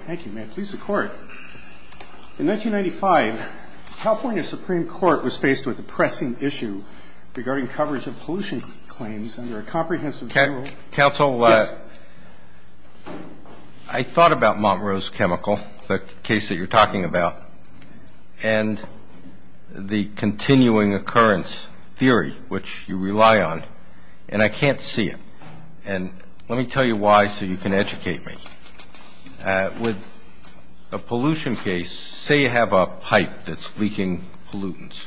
In 1995, the California Supreme Court was faced with a pressing issue regarding coverage of pollution claims under a comprehensive... Counsel, I thought about Montrose Chemical, the case that you're talking about, and the continuing occurrence theory, which you rely on, and I can't see it. And let me tell you why so you can educate me. With a pollution case, say you have a pipe that's leaking pollutants.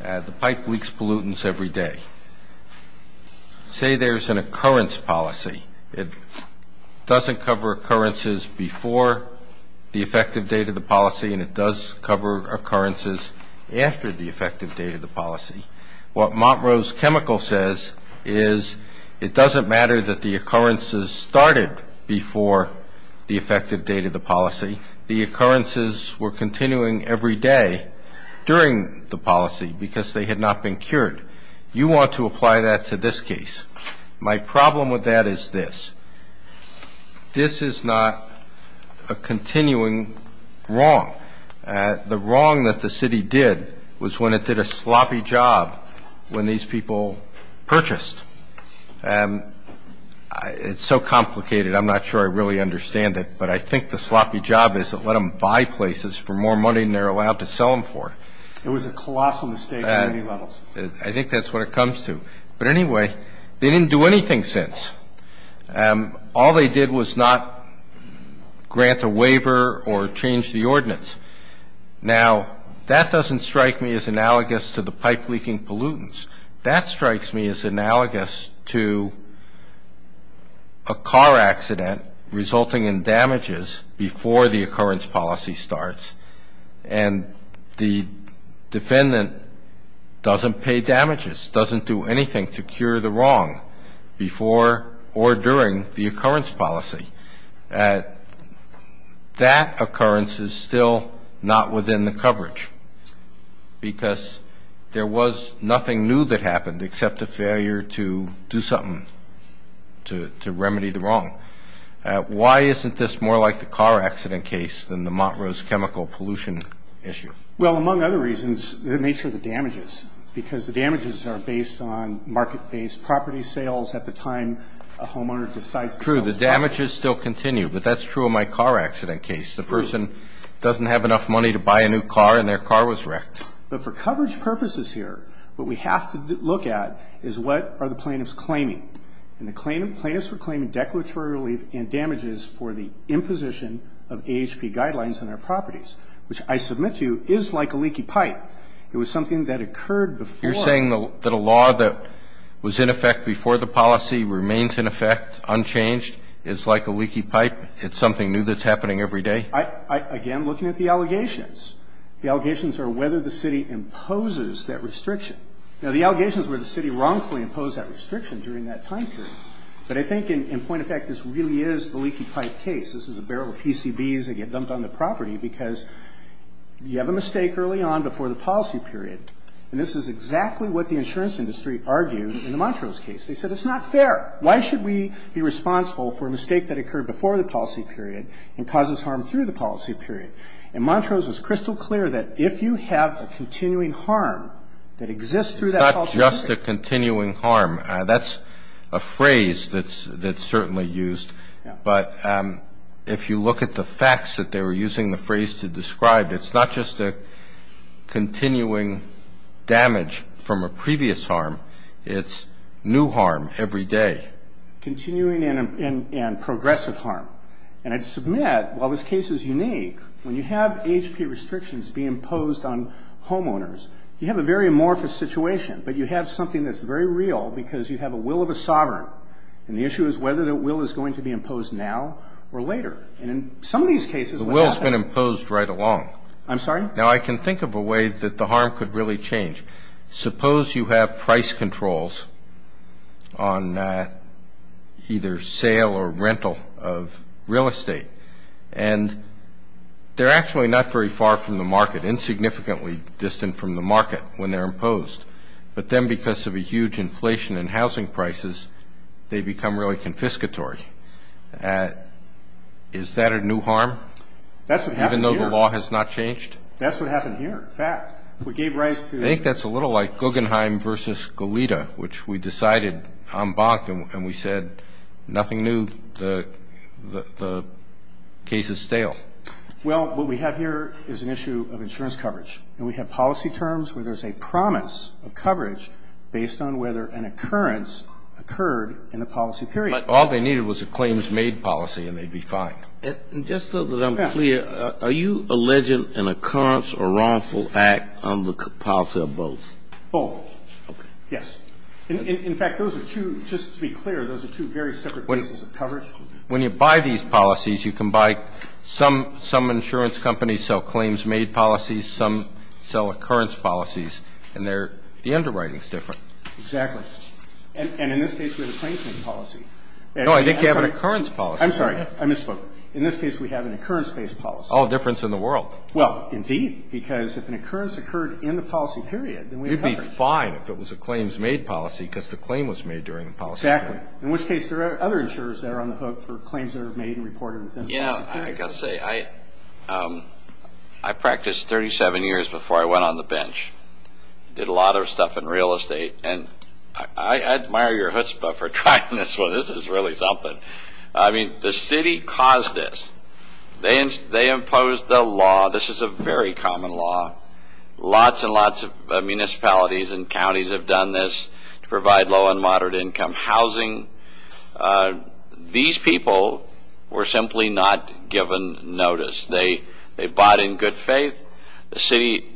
The pipe leaks pollutants every day. Say there's an occurrence policy. It doesn't cover occurrences before the effective date of the policy, and it does cover occurrences after the effective date of the policy. What Montrose Chemical says is it doesn't matter that the occurrences started before the effective date of the policy. The occurrences were continuing every day during the policy because they had not been cured. You want to apply that to this case. My problem with that is this. This is not a continuing wrong. The wrong that the city did was when it did a sloppy job when these people purchased. It's so complicated. I'm not sure I really understand it, but I think the sloppy job is to let them buy places for more money than they're allowed to sell them for. It was a colossal mistake on many levels. I think that's what it comes to. But anyway, they didn't do anything since. All they did was not grant a waiver or change the ordinance. Now, that doesn't strike me as analogous to the pipe leaking pollutants. That strikes me as analogous to a car accident resulting in damages before the occurrence policy starts, and the defendant doesn't pay damages, doesn't do anything to cure the wrong before or during the occurrence policy. That occurrence is still not within the coverage because there was nothing new that happened except a failure to do something to remedy the wrong. Why isn't this more like the car accident case than the Montrose chemical pollution issue? Well, among other reasons, the nature of the damages, because the damages are based on market-based property sales at the time a homeowner decides to sell his property. So the damages still continue, but that's true of my car accident case. The person doesn't have enough money to buy a new car, and their car was wrecked. But for coverage purposes here, what we have to look at is what are the plaintiffs claiming. And the plaintiffs were claiming declaratory relief in damages for the imposition of AHP guidelines on their properties, which I submit to you is like a leaky pipe. It was something that occurred before. You're saying that a law that was in effect before the policy remains in effect, unchanged, is like a leaky pipe? It's something new that's happening every day? Again, looking at the allegations. The allegations are whether the city imposes that restriction. Now, the allegations were the city wrongfully imposed that restriction during that time period. But I think in point of fact, this really is the leaky pipe case. This is a barrel of PCBs that get dumped on the property because you have a mistake early on before the policy period. And this is exactly what the insurance industry argued in the Montrose case. They said it's not fair. Why should we be responsible for a mistake that occurred before the policy period and causes harm through the policy period? And Montrose was crystal clear that if you have a continuing harm that exists through that policy period. It's not just a continuing harm. That's a phrase that's certainly used. But if you look at the facts that they were using the phrase to describe, it's not just a continuing damage from a previous harm. It's new harm every day. Continuing and progressive harm. And I submit, while this case is unique, when you have AHP restrictions be imposed on homeowners, you have a very amorphous situation. But you have something that's very real because you have a will of a sovereign. And the issue is whether that will is going to be imposed now or later. And in some of these cases, what happens? The will has been imposed right along. I'm sorry? Now, I can think of a way that the harm could really change. Suppose you have price controls on either sale or rental of real estate. And they're actually not very far from the market, insignificantly distant from the market when they're imposed. But then because of a huge inflation in housing prices, they become really confiscatory. Is that a new harm? That's what happened here. Even though the law has not changed? That's what happened here. Fact. We gave rise to. I think that's a little like Guggenheim versus Goleta, which we decided en banc and we said nothing new, the case is stale. Well, what we have here is an issue of insurance coverage. And we have policy terms where there's a promise of coverage based on whether an occurrence occurred in the policy period. But all they needed was a claims-made policy and they'd be fine. And just so that I'm clear, are you alleging an occurrence or wrongful act on the policy of both? Both. Yes. In fact, those are two, just to be clear, those are two very separate cases of coverage. When you buy these policies, you can buy some insurance companies sell claims-made policies, some sell occurrence policies. And they're, the underwriting is different. Exactly. And in this case, we have a claims-made policy. No, I think you have an occurrence policy. I'm sorry, I misspoke. In this case, we have an occurrence-based policy. Oh, a difference in the world. Well, indeed, because if an occurrence occurred in the policy period, then we have coverage. You'd be fine if it was a claims-made policy because the claim was made during the policy period. Exactly. In which case, there are other insurers that are on the hook for claims that are made and reported within the policy period. Yeah, I've got to say, I practiced 37 years before I went on the bench. Did a lot of stuff in real estate. And I admire your chutzpah for trying this one. This is really something. I mean, the city caused this. They imposed the law. This is a very common law. Lots and lots of municipalities and counties have done this to provide low- and moderate-income housing. These people were simply not given notice. They bought in good faith. The city,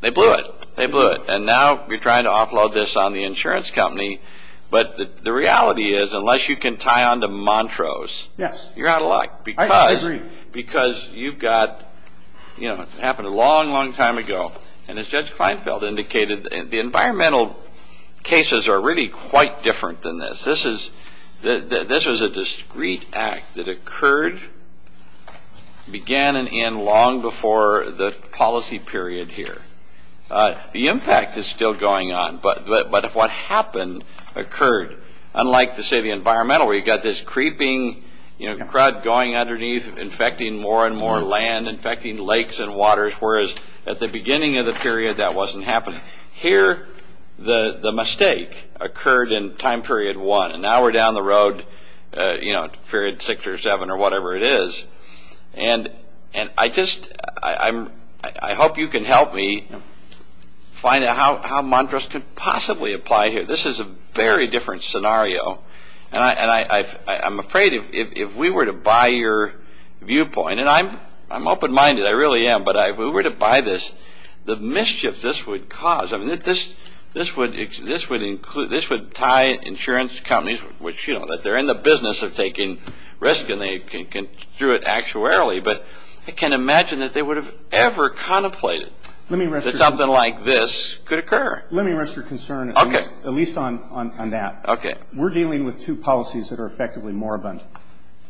they blew it. They blew it. And now we're trying to offload this on the insurance company. But the reality is, unless you can tie on to Montrose, you're out of luck. I agree. Because you've got, you know, it happened a long, long time ago. And as Judge Kleinfeld indicated, the environmental cases are really quite different than this. This was a discreet act that occurred, began, and ended long before the policy period here. The impact is still going on. But what happened occurred. Unlike, say, the environmental, where you've got this creeping crowd going underneath, infecting more and more land, infecting lakes and waters, whereas at the beginning of the period, that wasn't happening. Here, the mistake occurred in time period one. And now we're down the road, you know, period six or seven or whatever it is. And I just, I hope you can help me find out how Montrose could possibly apply here. This is a very different scenario. And I'm afraid if we were to buy your viewpoint, and I'm open-minded, I really am, but if we were to buy this, the mischief this would cause, I mean, this would tie insurance companies, which, you know, they're in the business of taking risk, and they can construe it actuarially. But I can't imagine that they would have ever contemplated that something like this could occur. Let me rest your concern at least on that. Okay. We're dealing with two policies that are effectively moribund.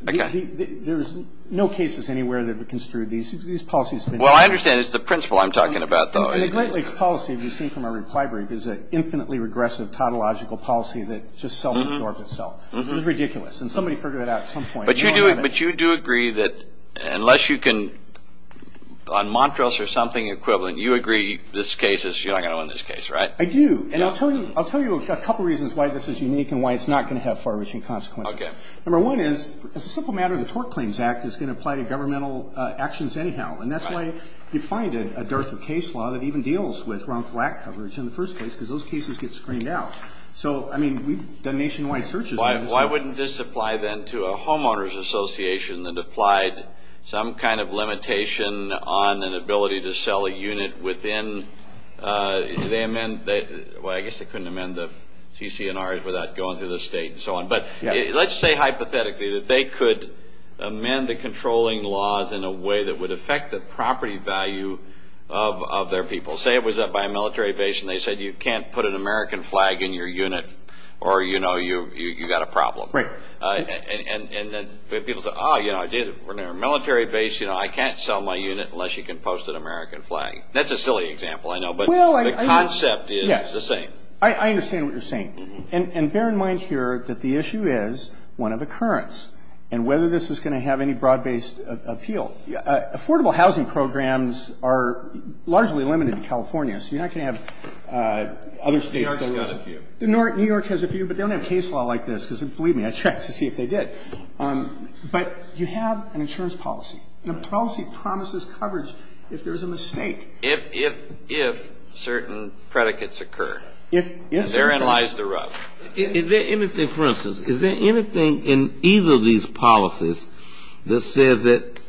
Okay. There's no cases anywhere that would construe these policies. Well, I understand it's the principle I'm talking about, though. And the Great Lakes policy, as you've seen from our reply brief, is an infinitely regressive, tautological policy that just self-absorbs itself. It's ridiculous. And somebody figured it out at some point. But you do agree that unless you can, on Montrose or something equivalent, you agree this case is, you're not going to own this case, right? I do. And I'll tell you a couple reasons why this is unique and why it's not going to have far-reaching consequences. Okay. Number one is, as a simple matter, the Tort Claims Act is going to apply to governmental actions anyhow. And that's why you find a dearth of case law that even deals with wrong flat coverage in the first place because those cases get screened out. So, I mean, we've done nationwide searches on this. Why wouldn't this apply then to a homeowner's association that applied some kind of limitation on an ability to sell a unit within, did they amend, well, I guess they couldn't amend the CC&Rs without going through the state and so on. But let's say hypothetically that they could amend the controlling laws in a way that would affect the property value of their people. Say it was by a military base and they said you can't put an American flag in your unit or, you know, you've got a problem. Right. And then people say, oh, you know, I did it. We're a military base, you know, I can't sell my unit unless you can post an American flag. That's a silly example, I know, but the concept is the same. Well, I understand what you're saying. And bear in mind here that the issue is one of occurrence and whether this is going to have any broad-based appeal. Affordable housing programs are largely limited in California, so you're not going to have other states. New York has a few. New York has a few, but they don't have case law like this, because believe me, I checked to see if they did. But you have an insurance policy, and a policy promises coverage if there's a mistake. If certain predicates occur. If certain predicates occur. And therein lies the rub. Is there anything, for instance, is there anything in either of these policies that says that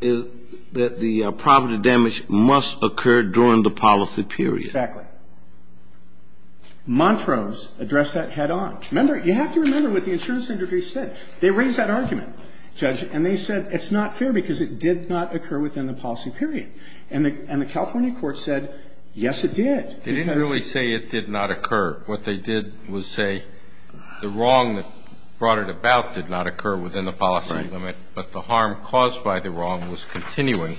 the property damage must occur during the policy period? Exactly. Montrose addressed that head-on. Remember, you have to remember what the insurance industry said. They raised that argument, Judge, and they said it's not fair because it did not occur within the policy period. And the California court said, yes, it did. They didn't really say it did not occur. What they did was say the wrong that brought it about did not occur within the policy limit, but the harm caused by the wrong was continuing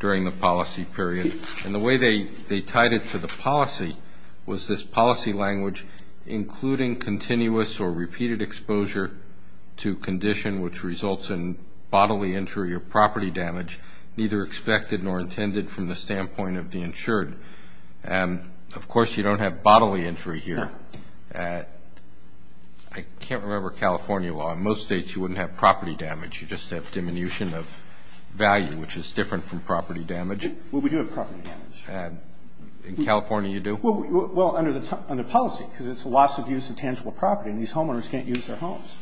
during the policy period. And the way they tied it to the policy was this policy language, including continuous or repeated exposure to condition which results in bodily injury or property damage, neither expected nor intended from the standpoint of the insured. Of course, you don't have bodily injury here. I can't remember California law. In most states, you wouldn't have property damage. You just have diminution of value, which is different from property damage. Well, we do have property damage. In California, you do? Well, under policy because it's a loss of use of tangible property, and these homeowners can't use their homes.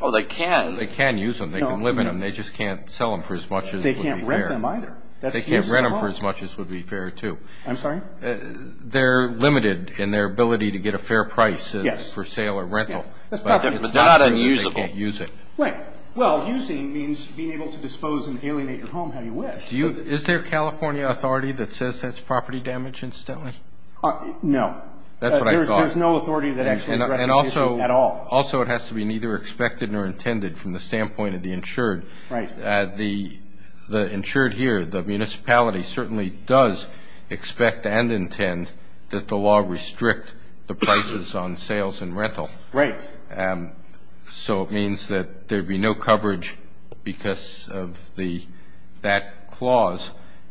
Oh, they can. They can use them. They can live in them. They just can't sell them for as much as would be fair. They can't rent them either. They can't rent them for as much as would be fair, too. I'm sorry? They're limited in their ability to get a fair price for sale or rental. Yes. But they're not unusable. They can't use it. Right. Well, using means being able to dispose and alienate your home how you wish. Is there a California authority that says that's property damage, incidentally? No. That's what I thought. There's no authority that actually addresses the issue at all. And also it has to be neither expected nor intended from the standpoint of the insured. Right. The insured here, the municipality certainly does expect and intend that the law restrict the prices on sales and rental. Right. So it means that there would be no coverage because of that clause.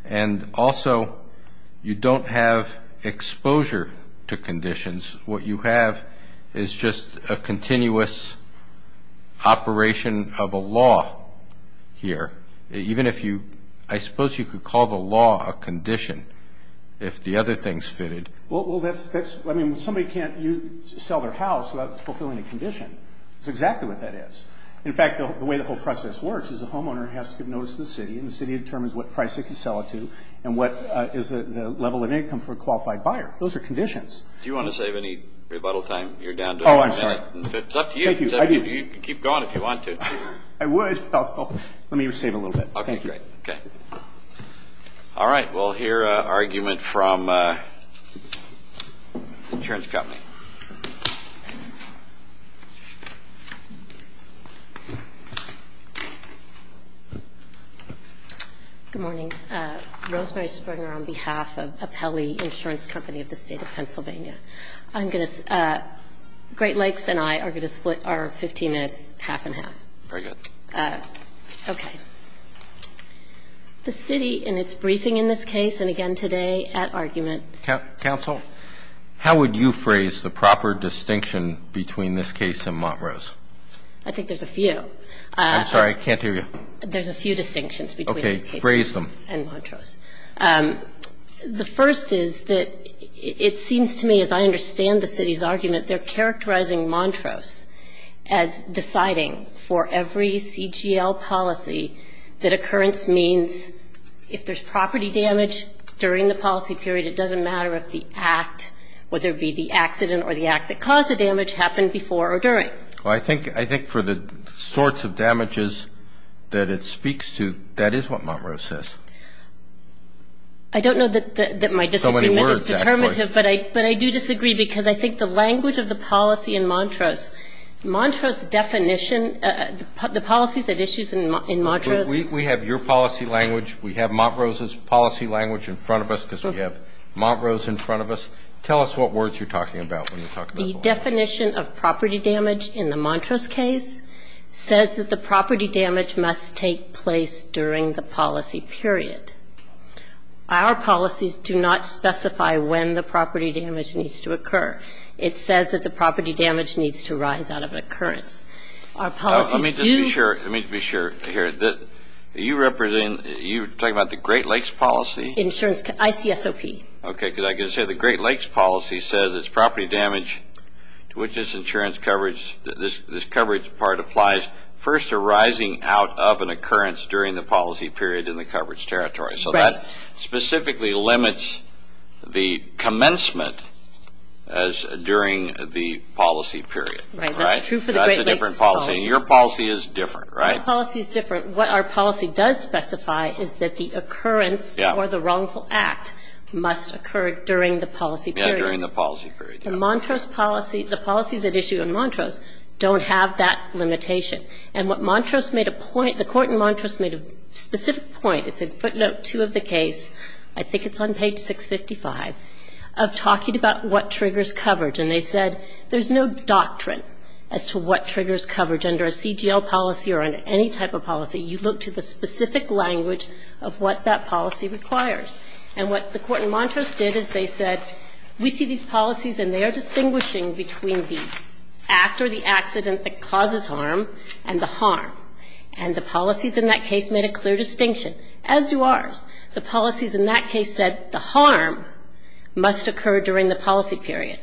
What you have is just a continuous operation of a law here. Even if you – I suppose you could call the law a condition if the other things fitted. Well, that's – I mean, somebody can't sell their house without fulfilling a condition. That's exactly what that is. In fact, the way the whole process works is the homeowner has to give notice to the city and the city determines what price they can sell it to and what is the level of income for a qualified buyer. Those are conditions. Do you want to save any rebuttal time you're down to? Oh, I'm sorry. It's up to you. Thank you. I do. You can keep going if you want to. I would. Let me save a little bit. Okay, great. Okay. All right. We'll hear an argument from the insurance company. Good morning. Rosemary Springer on behalf of Apelli Insurance Company of the State of Pennsylvania. I'm going to – Great Lakes and I are going to split our 15 minutes half and half. Very good. Okay. The city in its briefing in this case and again today at argument – Counsel, how would you phrase the proper distinction between this case and Montrose? I think there's a few. I'm sorry. I can't hear you. There's a few distinctions between this case and Montrose. Phrase them. The first is that it seems to me, as I understand the city's argument, they're characterizing Montrose as deciding for every CGL policy that occurrence means if there's property damage during the policy period, it doesn't matter if the act, whether it be the accident or the act that caused the damage, happened before or during. Right. Well, I think for the sorts of damages that it speaks to, that is what Montrose says. I don't know that my disagreement is determinative. So many words, actually. But I do disagree because I think the language of the policy in Montrose, Montrose definition, the policies that issues in Montrose – We have your policy language. We have Montrose's policy language in front of us because we have Montrose in front of us. Tell us what words you're talking about when you're talking about Montrose. The definition of property damage in the Montrose case says that the property damage must take place during the policy period. Our policies do not specify when the property damage needs to occur. It says that the property damage needs to rise out of occurrence. Our policies do – Let me just be sure – let me just be sure here. You represent – you're talking about the Great Lakes policy? Insurance – ICSOP. Okay. Because I can say the Great Lakes policy says it's property damage to which this insurance coverage – this coverage part applies first to rising out of an occurrence during the policy period in the coverage territory. Right. So that specifically limits the commencement as during the policy period. Right. That's true for the Great Lakes policy. That's a different policy. Your policy is different, right? Our policy is different. What our policy does specify is that the occurrence or the wrongful act must occur during the policy period. Yeah, during the policy period. The Montrose policy – the policies at issue in Montrose don't have that limitation. And what Montrose made a point – the court in Montrose made a specific point. It's in footnote 2 of the case – I think it's on page 655 – of talking about what triggers coverage. And they said there's no doctrine as to what triggers coverage under a CGL policy or under any type of policy. You look to the specific language of what that policy requires. And what the court in Montrose did is they said we see these policies and they are distinguishing between the act or the accident that causes harm and the harm. And the policies in that case made a clear distinction, as do ours. The policies in that case said the harm must occur during the policy period.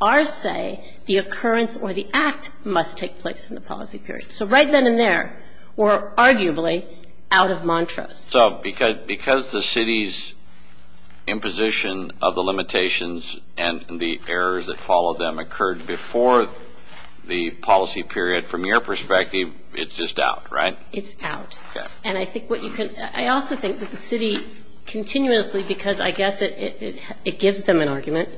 Ours say the occurrence or the act must take place in the policy period. So right then and there, we're arguably out of Montrose. So because the city's imposition of the limitations and the errors that follow them occurred before the policy period, from your perspective, it's just out, right? It's out. Okay. And I think what you can – I also think that the city continuously, because I guess it gives them an argument,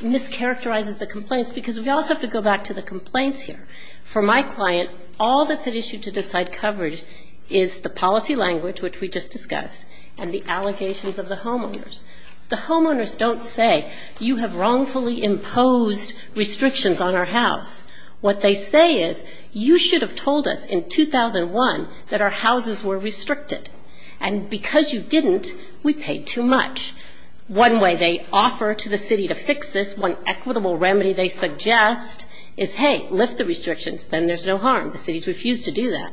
mischaracterizes the complaints because we also have to go back to the complaints here. For my client, all that's at issue to decide coverage is the policy language, which we just discussed, and the allegations of the homeowners. The homeowners don't say you have wrongfully imposed restrictions on our house. What they say is you should have told us in 2001 that our houses were restricted, and because you didn't, we paid too much. One way they offer to the city to fix this, one equitable remedy they suggest, is, hey, lift the restrictions. Then there's no harm. The city's refused to do that.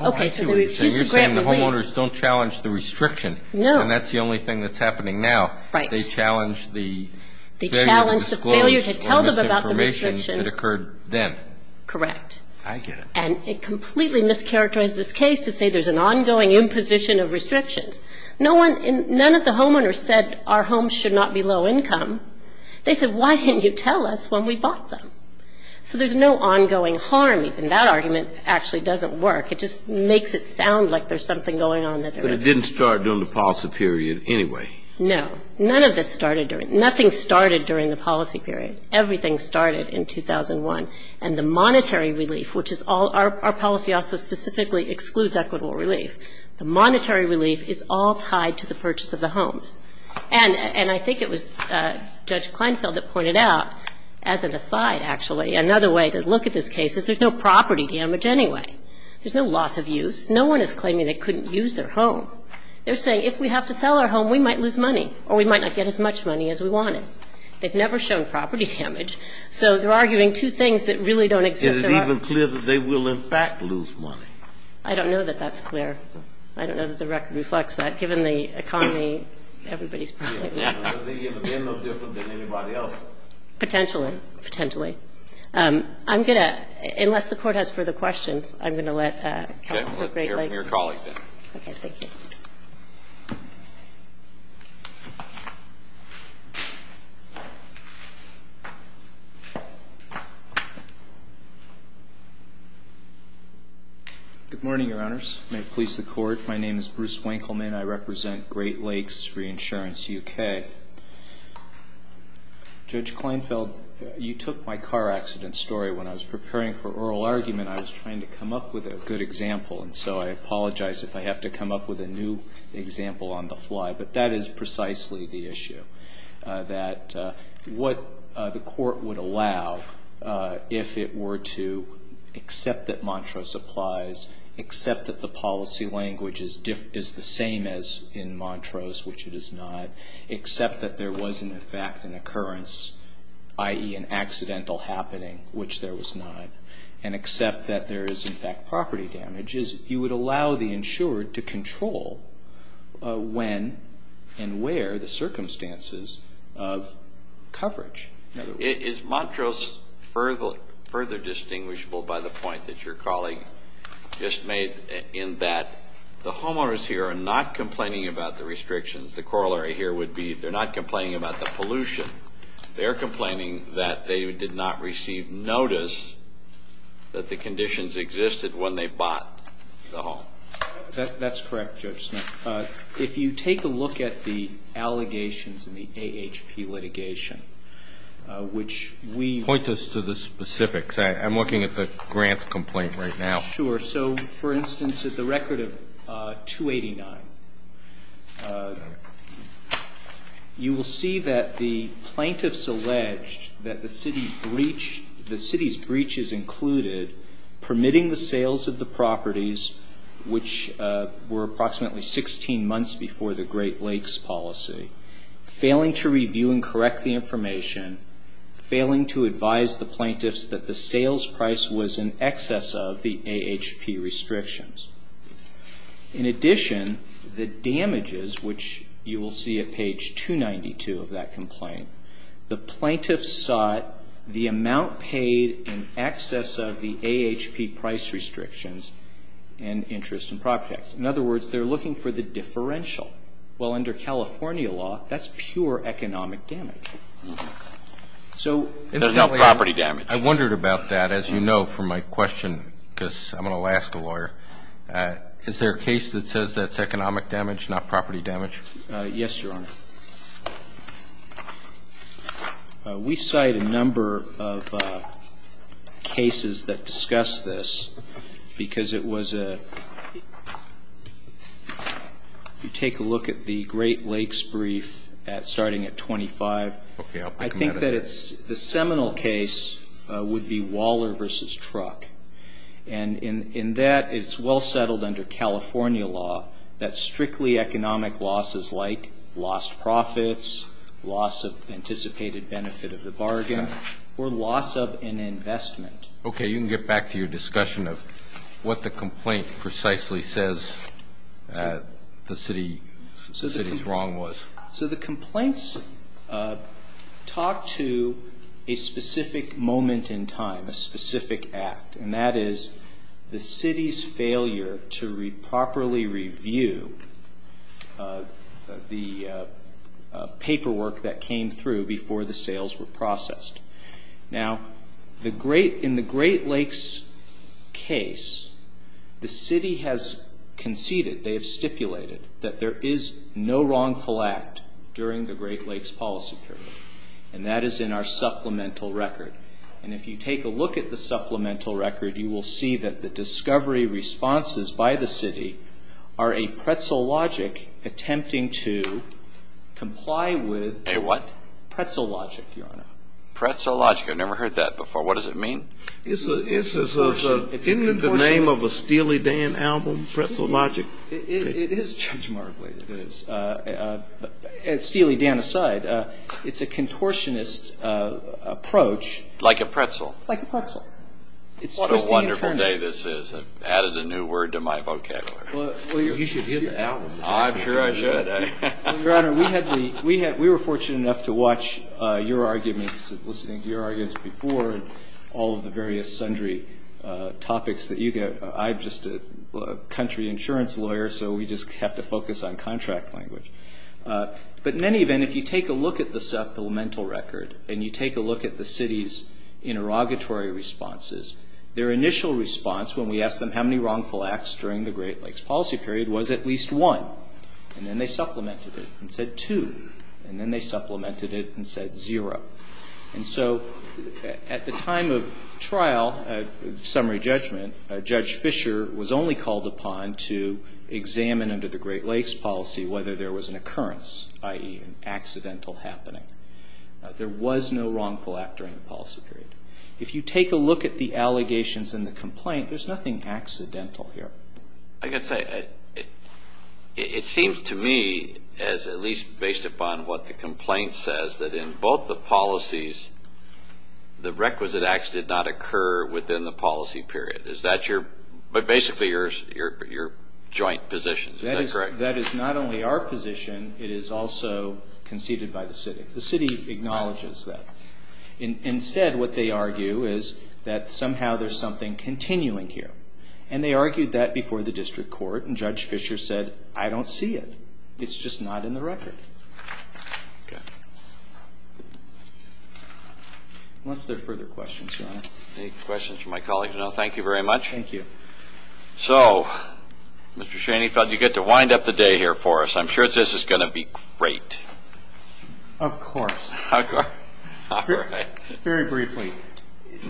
Okay, so they refuse to grant the rate. So you're saying the homeowners don't challenge the restriction. No. And that's the only thing that's happening now. Right. They challenge the failure to disclose the misinformation that occurred then. Correct. I get it. And it completely mischaracterizes this case to say there's an ongoing imposition of restrictions. None of the homeowners said our homes should not be low income. They said, why didn't you tell us when we bought them? So there's no ongoing harm. Even that argument actually doesn't work. It just makes it sound like there's something going on that there isn't. But it didn't start during the policy period anyway. No. None of this started during it. Nothing started during the policy period. Everything started in 2001. And the monetary relief, which is all our policy also specifically excludes equitable relief. The monetary relief is all tied to the purchase of the homes. And I think it was Judge Kleinfeld that pointed out, as an aside, actually, another way to look at this case is there's no property damage anyway. There's no loss of use. No one is claiming they couldn't use their home. They're saying if we have to sell our home, we might lose money or we might not get as much money as we wanted. They've never shown property damage. So they're arguing two things that really don't exist at all. Is it even clear that they will, in fact, lose money? I don't know that that's clear. I don't know that the record reflects that. Given the economy, everybody's probably going to lose money. Would they have been no different than anybody else? Potentially. Potentially. I'm going to, unless the Court has further questions, I'm going to let counsel put Great Lakes. Okay. Thank you. Good morning, Your Honors. May it please the Court. My name is Bruce Winkleman. I represent Great Lakes Reinsurance, U.K. Judge Kleinfeld, you took my car accident story. When I was preparing for oral argument, I was trying to come up with a good example, and so I apologize if I have to come up with a new example on the fly. But that is precisely the issue, that what the Court would allow if it were to accept that Montrose applies, accept that the policy language is the same as in Montrose, which it is not, accept that there was, in fact, an occurrence, i.e., an accidental happening, which there was not, and accept that there is, in fact, property damage, is you would allow the insured to control when and where the circumstances of coverage. Is Montrose further distinguishable by the point that your colleague just made, in that the homeowners here are not complaining about the restrictions. The corollary here would be they're not complaining about the pollution. They're complaining that they did not receive notice that the conditions existed when they bought the home. That's correct, Judge. If you take a look at the allegations in the AHP litigation, which we- Point us to the specifics. I'm looking at the grant complaint right now. Sure. So, for instance, at the record of 289, you will see that the plaintiffs alleged that the city's breach is included, permitting the sales of the properties, which were approximately 16 months before the Great Lakes policy, failing to review and correct the information, failing to advise the plaintiffs that the sales price was in excess of the AHP restrictions. In addition, the damages, which you will see at page 292 of that complaint, the plaintiffs sought the amount paid in excess of the AHP price restrictions and interest and property tax. In other words, they're looking for the differential. Well, under California law, that's pure economic damage. So- There's no property damage. I wondered about that. As you know from my question, because I'm an Alaska lawyer, is there a case that says that's economic damage, not property damage? Yes, Your Honor. We cite a number of cases that discuss this because it was a- If you take a look at the Great Lakes brief starting at 25- Okay, I'll pick another. I think that the seminal case would be Waller v. Truck. And in that, it's well settled under California law that strictly economic losses like lost profits, loss of anticipated benefit of the bargain, or loss of an investment- Okay, you can get back to your discussion of what the complaint precisely says the city's wrong was. So the complaints talk to a specific moment in time, a specific act, and that is the city's failure to properly review the paperwork that came through before the sales were processed. Now, in the Great Lakes case, the city has conceded, they have stipulated that there is no wrongful act during the Great Lakes policy period, and that is in our supplemental record. And if you take a look at the supplemental record, you will see that the discovery responses by the city are a pretzel logic attempting to comply with- A what? Pretzel logic, Your Honor. Pretzel logic? I've never heard that before. What does it mean? Isn't it the name of a Steely Dan album, Pretzel Logic? It is, Judge Marv, it is. Steely Dan aside, it's a contortionist approach. Like a pretzel? Like a pretzel. It's twisting and turning. What a wonderful day this is. I've added a new word to my vocabulary. Well, you should hear the album. I'm sure I should. Your Honor, we were fortunate enough to watch your arguments, listening to your arguments before, and all of the various sundry topics that you get. I'm just a country insurance lawyer, so we just have to focus on contract language. But in any event, if you take a look at the supplemental record and you take a look at the city's interrogatory responses, their initial response when we asked them how many wrongful acts during the Great Lakes policy period was at least one, and then they supplemented it and said two, and then they supplemented it and said zero. And so at the time of trial, summary judgment, Judge Fischer was only called upon to examine under the Great Lakes policy whether there was an occurrence, i.e. an accidental happening. There was no wrongful act during the policy period. If you take a look at the allegations in the complaint, there's nothing accidental here. I can say it seems to me, at least based upon what the complaint says, that in both the policies, the requisite acts did not occur within the policy period. Is that basically your joint position? That is not only our position. It is also conceded by the city. The city acknowledges that. Instead, what they argue is that somehow there's something continuing here. And they argued that before the district court, and Judge Fischer said, I don't see it. It's just not in the record. Unless there are further questions, Your Honor. Any questions from my colleagues? No. Thank you very much. Thank you. So, Mr. Shaney, I thought you'd get to wind up the day here for us. I'm sure this is going to be great. Of course. Of course. All right. Very briefly.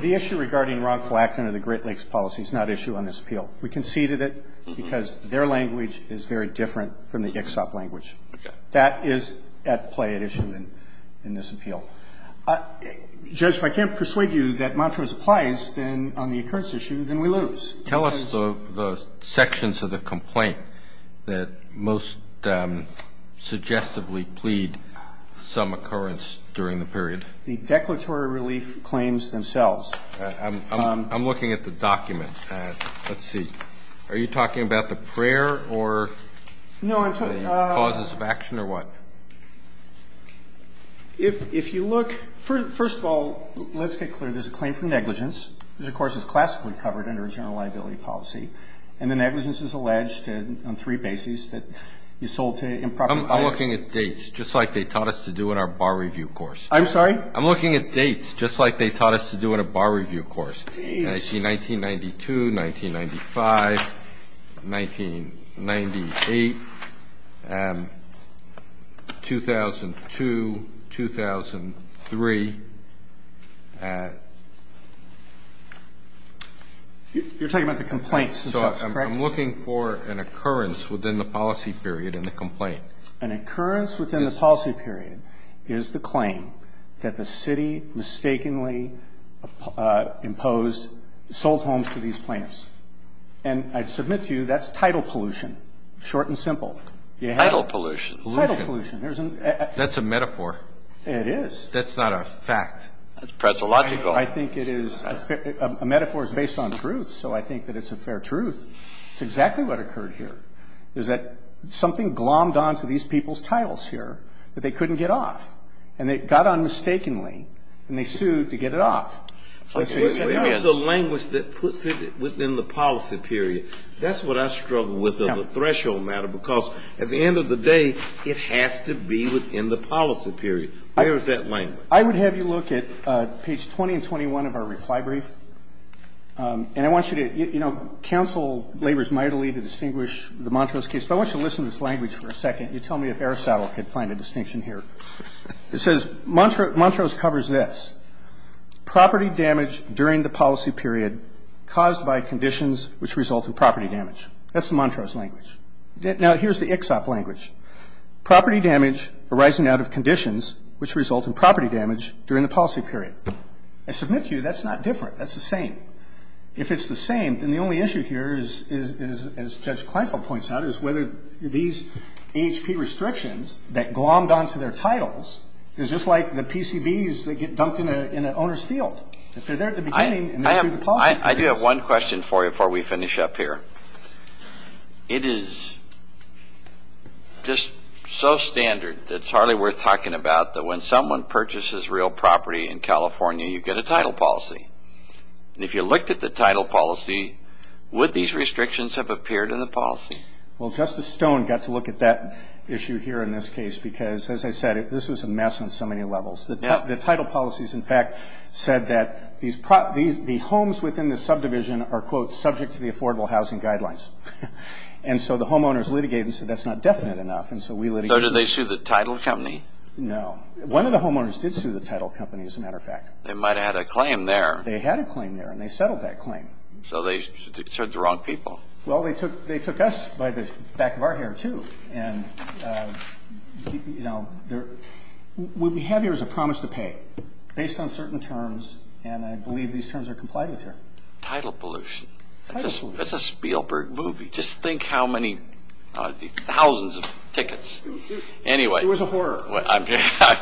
The issue regarding wrongful act under the Great Lakes Policy is not issue on this appeal. We conceded it because their language is very different from the ICHSOP language. Okay. That is at play at issue in this appeal. Judge, if I can't persuade you that Montrose applies, then on the occurrence issue, then we lose. Tell us the sections of the complaint that most suggestively plead some occurrence during the period. The declaratory relief claims themselves. I'm looking at the document. Let's see. Are you talking about the prayer or the causes of action or what? If you look, first of all, let's get clear. There's a claim for negligence, which, of course, is classically covered under a general liability policy. And the negligence is alleged on three bases, that you sold to improper buyers. I'm looking at dates, just like they taught us to do in our bar review course. I'm sorry? I'm looking at dates, just like they taught us to do in a bar review course. I see 1992, 1995, 1998, 2002, 2003. You're talking about the complaints themselves, correct? I'm looking for an occurrence within the policy period in the complaint. An occurrence within the policy period is the claim that the city mistakenly imposed sold homes to these plaintiffs. And I submit to you that's title pollution, short and simple. Title pollution. Title pollution. That's a metaphor. It is. That's not a fact. That's presological. I think it is. A metaphor is based on truth, so I think that it's a fair truth. It's exactly what occurred here. Is that something glommed on to these people's titles here that they couldn't get off. And they got on mistakenly, and they sued to get it off. That's what you said. It's the language that puts it within the policy period. That's what I struggle with on the threshold matter, because at the end of the day, it has to be within the policy period. Where is that language? I would have you look at page 20 and 21 of our reply brief, and I want you to, you know, counsel labors mightily to distinguish the Montrose case. But I want you to listen to this language for a second. You tell me if Aristotle could find a distinction here. It says, Montrose covers this. Property damage during the policy period caused by conditions which result in property damage. That's the Montrose language. Now, here's the Ixop language. Property damage arising out of conditions which result in property damage during the policy period. I submit to you that's not different. That's the same. If it's the same, then the only issue here is, as Judge Kleinfeld points out, is whether these AHP restrictions that glommed onto their titles is just like the PCBs that get dunked in an owner's field. If they're there at the beginning and they're through the policy period. I do have one question for you before we finish up here. It is just so standard that it's hardly worth talking about that when someone purchases real property in California, you get a title policy. And if you looked at the title policy, would these restrictions have appeared in the policy? Well, Justice Stone got to look at that issue here in this case because, as I said, this was a mess on so many levels. The title policies, in fact, said that the homes within the subdivision are, quote, subject to the affordable housing guidelines. And so the homeowners litigated and said that's not definite enough. So did they sue the title company? No. One of the homeowners did sue the title company, as a matter of fact. They might have had a claim there. They had a claim there, and they settled that claim. So they sued the wrong people. Well, they took us by the back of our hair, too. And, you know, what we have here is a promise to pay based on certain terms. And I believe these terms are complied with here. Title pollution. Title pollution. That's a Spielberg movie. Just think how many thousands of tickets. It was a horror. I'm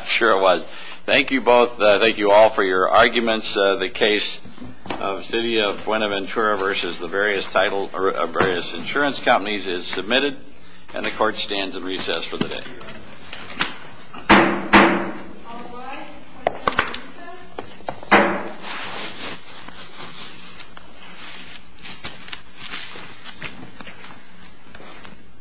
sure it was. Well, thank you both. Thank you all for your arguments. The case of the City of Buenaventura versus the various insurance companies is submitted. And the Court stands in recess for the day.